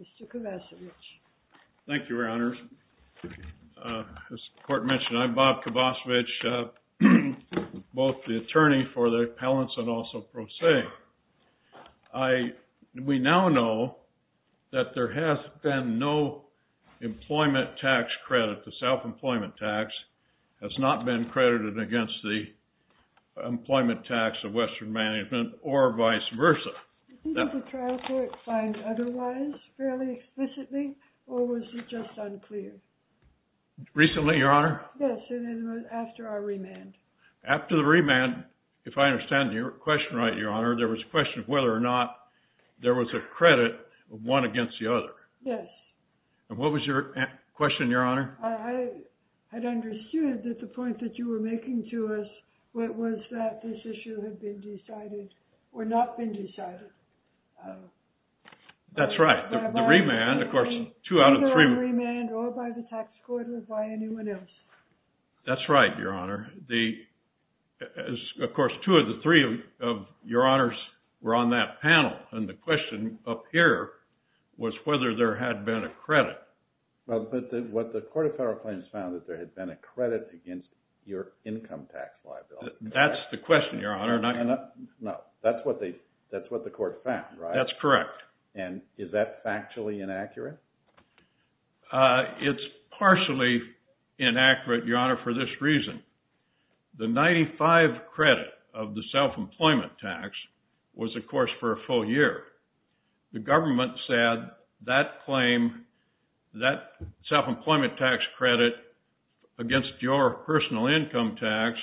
Mr. Kovacevic. Thank you, Your Honors. As the court mentioned, I'm Bob Kovacevic, both the attorney for the appellants and also pro se. We now know that there has been no employment tax credit, the self-employment tax has not been credited against the employment tax of Western Management or vice versa. Recently, Your Honor? After the remand, if I understand your question right, Your Honor, there was a question of whether or not there was a credit of one against the other. Yes. And what was your question, Your Honor? I had understood that the point that you were making to us was that this issue had been decided or not been decided. That's right. The remand, of course, two out of three. Either a remand or by the tax court or by anyone else. That's right, Your Honor. Of course, two of the three of Your Honors were on that panel and the question up here was whether there had been a credit. Well, but what the Court of Federal Claims found that there had been a credit against your income tax liability. That's the question, Your Honor. No, that's what the Court found, right? That's correct. And is that factually inaccurate? It's partially inaccurate, Your Honor, for this reason. The 95 credit of the self-employment tax was, of course, for a full year. The government said that claim, that self-employment tax credit against your personal income tax,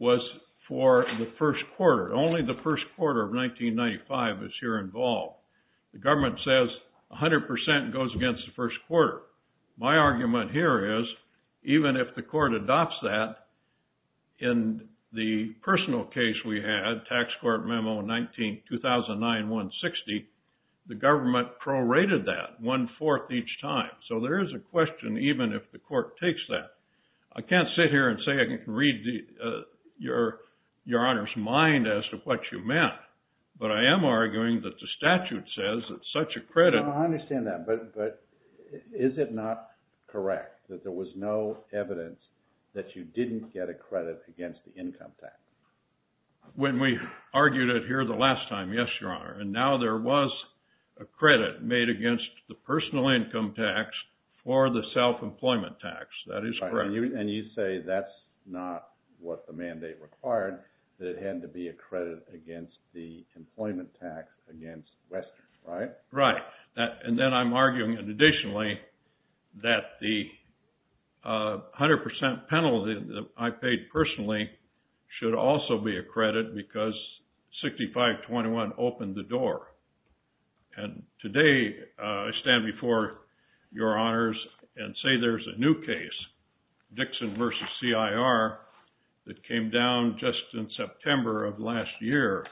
was for the first quarter. Only the first quarter of 1995 is here involved. The government says 100% goes against the first quarter. My argument here is, even if the court adopts that, in the personal case we had, Tax Court Memo 2009-160, the So there is a question even if the court takes that. I can't sit here and say I can read Your Honor's mind as to what you meant, but I am arguing that the statute says that such a credit... I understand that, but is it not correct that there was no evidence that you didn't get a credit against the income tax? When we argued it here the last time, yes, Your Honor, and now there was a personal income tax for the self-employment tax. That is correct. And you say that's not what the mandate required, that it had to be a credit against the employment tax against Western, right? Right, and then I'm arguing additionally that the 100% penalty that I paid personally should also be a credit because 6521 opened the door, Your Honors, and say there's a new case, Dixon v. CIR, that came down just in September of last year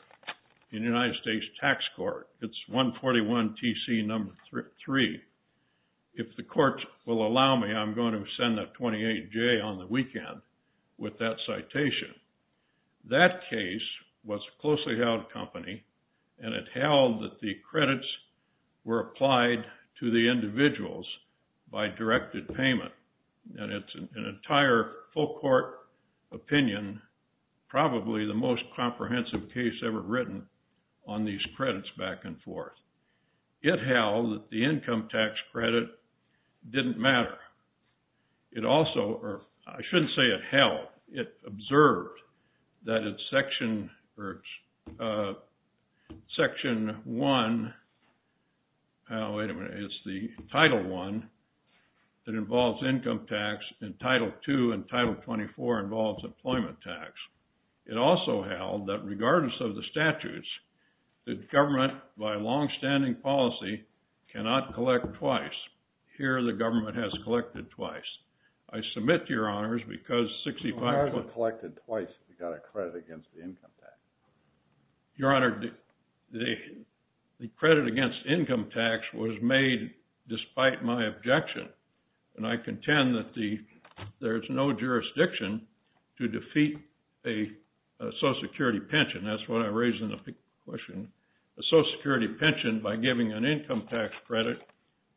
in the United States Tax Court. It's 141 TC number 3. If the court will allow me, I'm going to send a 28-J on the weekend with that citation. That case was closely held company and it held that the credits were applied to the individuals by directed payment. And it's an entire full court opinion, probably the most comprehensive case ever written on these credits back and forth. It held that the income tax credit didn't matter. It also, or I shouldn't say it held, it observed that it's section 1, oh wait a minute, it's the title 1 that involves income tax and title 2 and title 24 involves employment tax. It also held that regardless of the statutes, the government by long-standing policy cannot collect twice. Here the government has collected twice. I submit to Your Honor, the credit against income tax was made despite my objection and I contend that there's no jurisdiction to defeat a Social Security pension, that's what I raised in the question, a Social Security pension by giving an income tax credit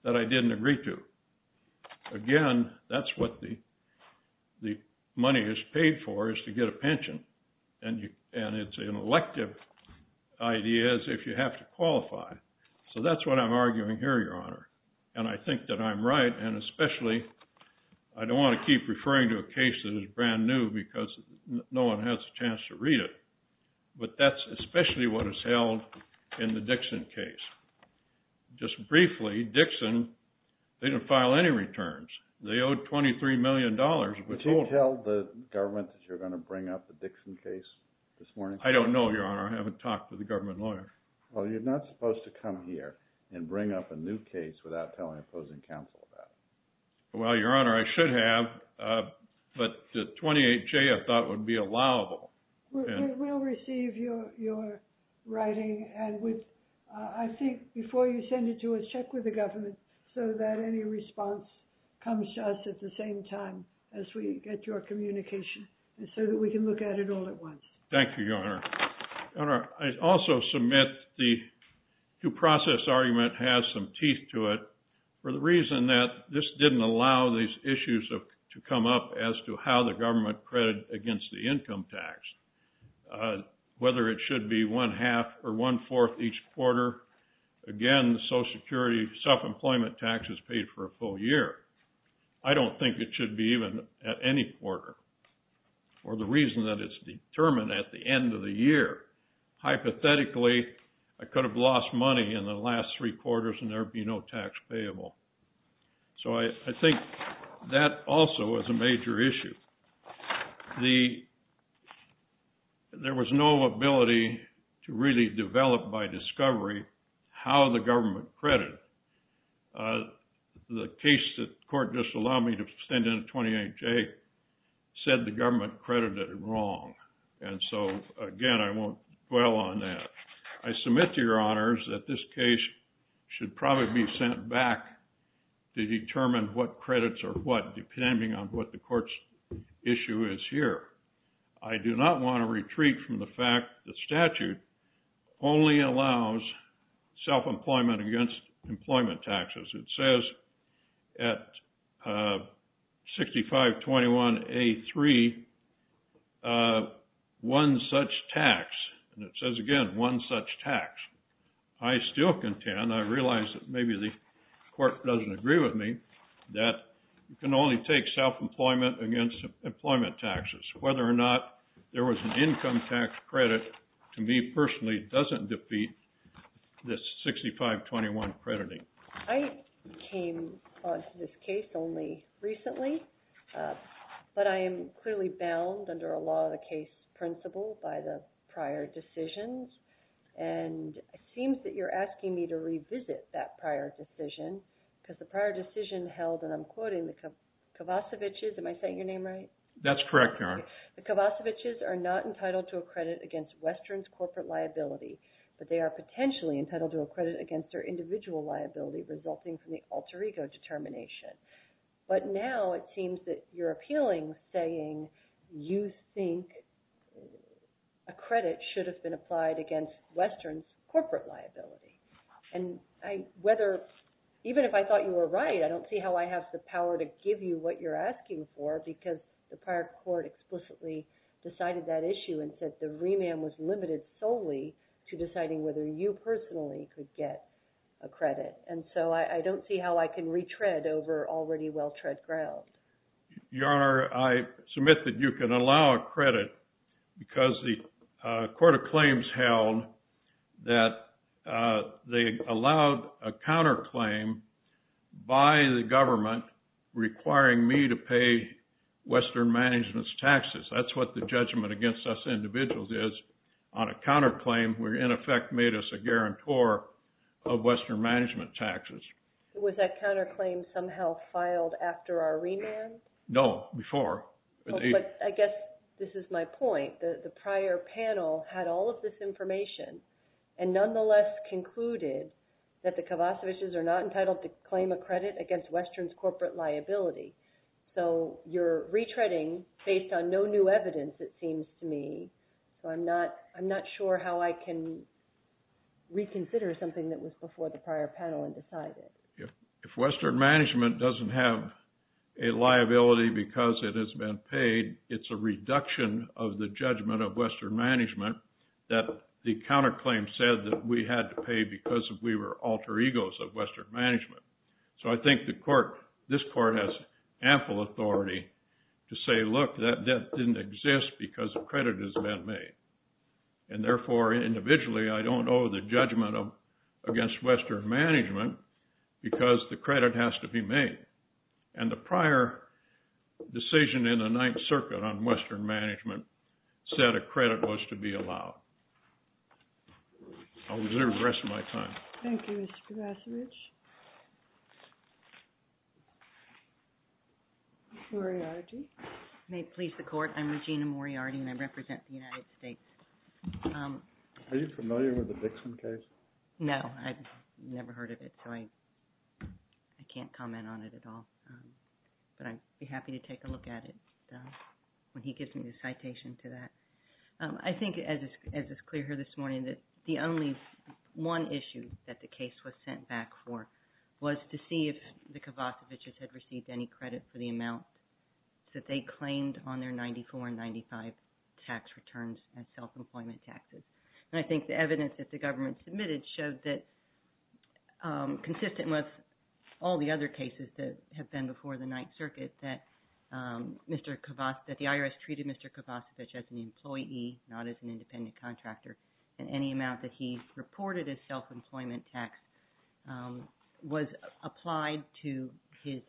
that I didn't agree to. Again, that's what the money is paid for is to get a pension and it's an elective idea is if you have to qualify. So that's what I'm arguing here, Your Honor, and I think that I'm right and especially I don't want to keep referring to a case that is brand new because no one has a chance to read it, but that's especially what is held in the Dixon case. Just briefly, Dixon, they didn't file any returns. They owed 23 million dollars. Would you tell the government that you're going to bring up the Dixon case this morning? I don't know, Your Honor, I haven't talked to the government lawyer. Well, you're not supposed to come here and bring up a new case without telling opposing counsel about it. Well, Your Honor, I should have, but the 28-J I thought would be allowable We'll receive your writing and I think before you send it to us, check with the government so that any response comes to us at the same time as we get your communication and so that we can look at it all at once. Thank you, Your Honor. I also submit the due process argument has some teeth to it for the reason that this didn't allow these issues to come up as to how the government credit against the income tax, whether it should be one-half or one-fourth each quarter. Again, the Social Security self-employment tax is paid for a full year. I don't think it should be even at any quarter for the reason that it's determined at the end of the year. Hypothetically, I could have lost money in the last three quarters and there'd be no tax payable. So I think that also is a there was no ability to really develop by discovery how the government credit. The case that court just allowed me to send in a 28-J said the government credited it wrong and so again I won't dwell on that. I submit to Your Honors that this case should probably be sent back to determine what credits are what I do not want to retreat from the fact the statute only allows self-employment against employment taxes. It says at 6521A3, one such tax, and it says again one such tax. I still contend, I realize that maybe the court doesn't agree with me, that you can only take self-employment against employment taxes. Whether or not there was an income tax credit, to me personally, doesn't defeat this 6521 crediting. I came on to this case only recently, but I am clearly bound under a law of the case principle by the prior decisions and it seems that you're asking me to revisit that prior decision because the prior decision held and I'm quoting the Kovacevichs, am I saying your name right? That's correct, Your Honor. The Kovacevichs are not entitled to a credit against Western's corporate liability, but they are potentially entitled to a credit against their individual liability resulting from the alter ego determination. But now it seems that you're appealing saying you think a credit should have been applied against Western's corporate liability. And whether, even if I thought you were right, I don't see how I have the power to give you what you're asking for because the prior court explicitly decided that issue and said the remand was limited solely to deciding whether you personally could get a credit. And so I don't see how I can retread over already well-tread ground. Your Honor, I submit that you can allow a credit because the court of claims held that they allowed a counterclaim by the government requiring me to pay Western Management's taxes. That's what the judgment against us individuals is on a counterclaim where in effect made us a guarantor of Western Management taxes. Was that counterclaim somehow filed after our remand? No, before. I guess this is my point. The prior panel had all of this information and nonetheless concluded that the Kavasovic's are not entitled to claim a credit against Western's corporate liability. So you're retreading based on no new evidence it seems to me. So I'm not sure how I can reconsider something that was before the prior panel and decide it. If Western Management doesn't have a liability because it has been paid, it's a reduction of the judgment of Western Management that the counterclaim said that we had to pay because we were alter egos of Western Management. So I think the court, this court, has ample authority to say look that didn't exist because the credit has been made. And therefore individually I don't know the Western Management because the credit has to be made. And the prior decision in the Ninth Circuit on Western Management said a credit was to be allowed. I'll reserve the rest of my time. Thank you Mr. Kavasovic. Moriarty. May it please the court, I'm Regina Moriarty and I represent the United States. Are you familiar with the Dixon case? No, I've never heard of it so I can't comment on it at all. But I'd be happy to take a look at it when he gives me the citation to that. I think as is clear here this morning that the only one issue that the case was sent back for was to see if the Kavasovic's had received any credit for the amount that they claimed on their 94 and 95 tax returns and self-employment taxes. And I think the evidence that the government submitted showed that consistent with all the other cases that have been before the Ninth Circuit that Mr. Kavasovic, that the IRS treated Mr. Kavasovic as an employee, not as an independent contractor, and any amount that he reported as self-employment tax was applied to his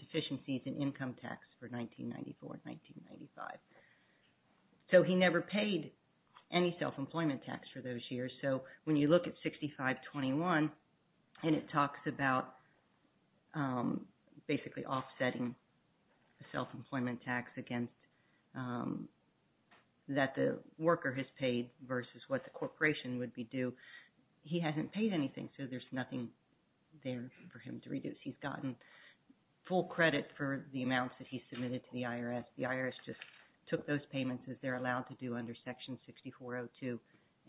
deficiencies in income tax for 1994 and 1995. So he never paid any self-employment tax for those years. So when you look at 6521 and it talks about basically offsetting the self-employment tax against that the worker has paid versus what the corporation would be due, he hasn't paid anything. So there's nothing there for him to reduce. He's gotten full credit for the amounts that he submitted to the IRS. The IRS just took those payments as they're allowed to do under Section 6402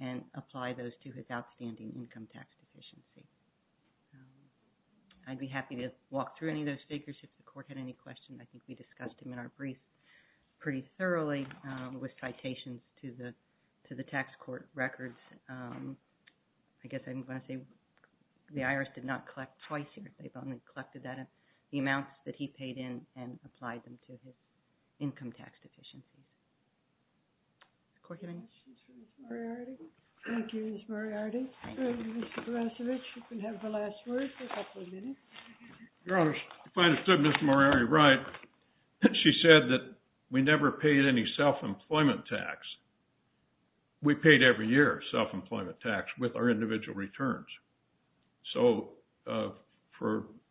and applied those to his outstanding income tax deficiency. I'd be happy to walk through any of those figures if the court had any questions. I think we discussed them in our brief pretty Thank you, Ms. Moriarty. Mr. Kavasovic, you can have the last word for a couple of minutes. Your Honor, if I understood Ms. Moriarty right, she said that we never paid any self-employment tax. We paid every year self-employment tax with our individual returns. So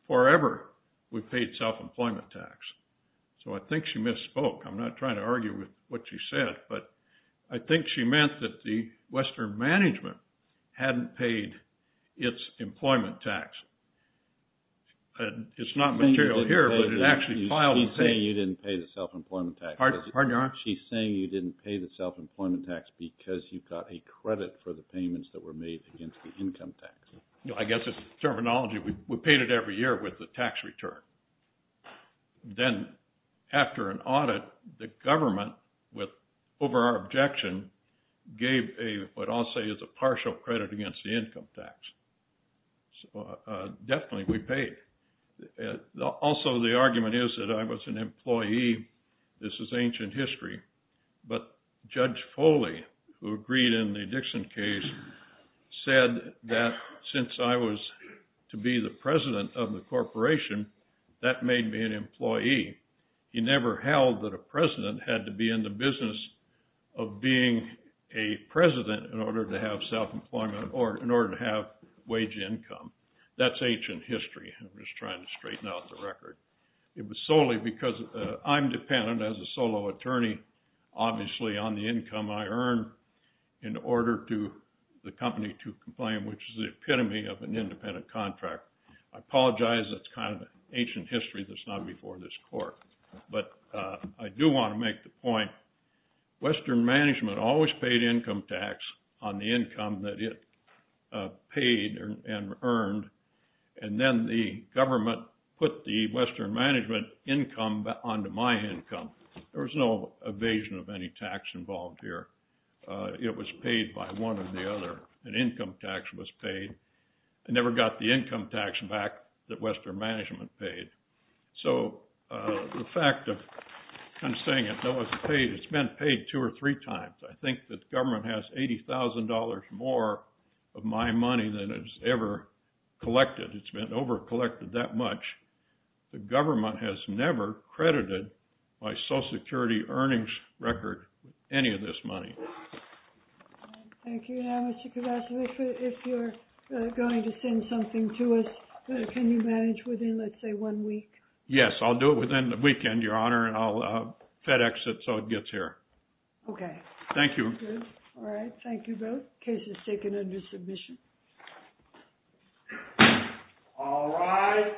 forever we paid self-employment tax. So I think she misspoke. I'm not trying to argue with what she said, but I think she meant that the Western management hadn't paid its employment tax. It's not material here, but it actually filed the thing. She's saying you didn't pay the self-employment tax. Pardon, Your Honor? She's saying you didn't pay the self-employment tax because you got a credit for the payments that were made against the income tax. I guess it's terminology. We paid it every year with the tax return. Then after an audit, the government, over our objection, gave what I'll say is a partial credit against the income tax. So definitely we paid. Also, the argument is that I was an employee. This is ancient history. But Judge Foley, who agreed in the Dixon case, said that since I was to be the president of the corporation, that made me an employee. He never held that a president had to be in the business of being a president in order to have self-employment or in order to have wage income. That's ancient history. I'm just trying to straighten out the record. It was solely because I'm dependent as a solo attorney, obviously, on the income I earn in order for the company to complain, which is the epitome of an independent contract. I apologize. That's kind of ancient history that's not before this court. But I do want to make the point, Western Management always paid income tax on the income that it paid and earned. And then the government put the Western Management income onto my income. There was no evasion of any tax involved here. It was paid by one or the other. An income tax was paid. I never got the income tax back that Western Management paid. So the fact of, I'm saying it, it's been paid two or three times. I think the government has $80,000 more of my money than it's ever collected. It's been overcollected that much. The government has never credited my Social Security earnings record with any of this money. Thank you. And I was just going to ask, if you're going to send something to us, can you manage within, let's say, one week? Yes, I'll do it within the weekend, Your Honor, and I'll FedEx it so it gets here. Okay. Thank you. All right. Thank you both. Case is taken under submission. All rise.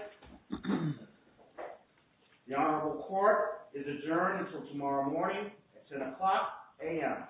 The Honorable Court is adjourned until tomorrow morning at 10 o'clock a.m.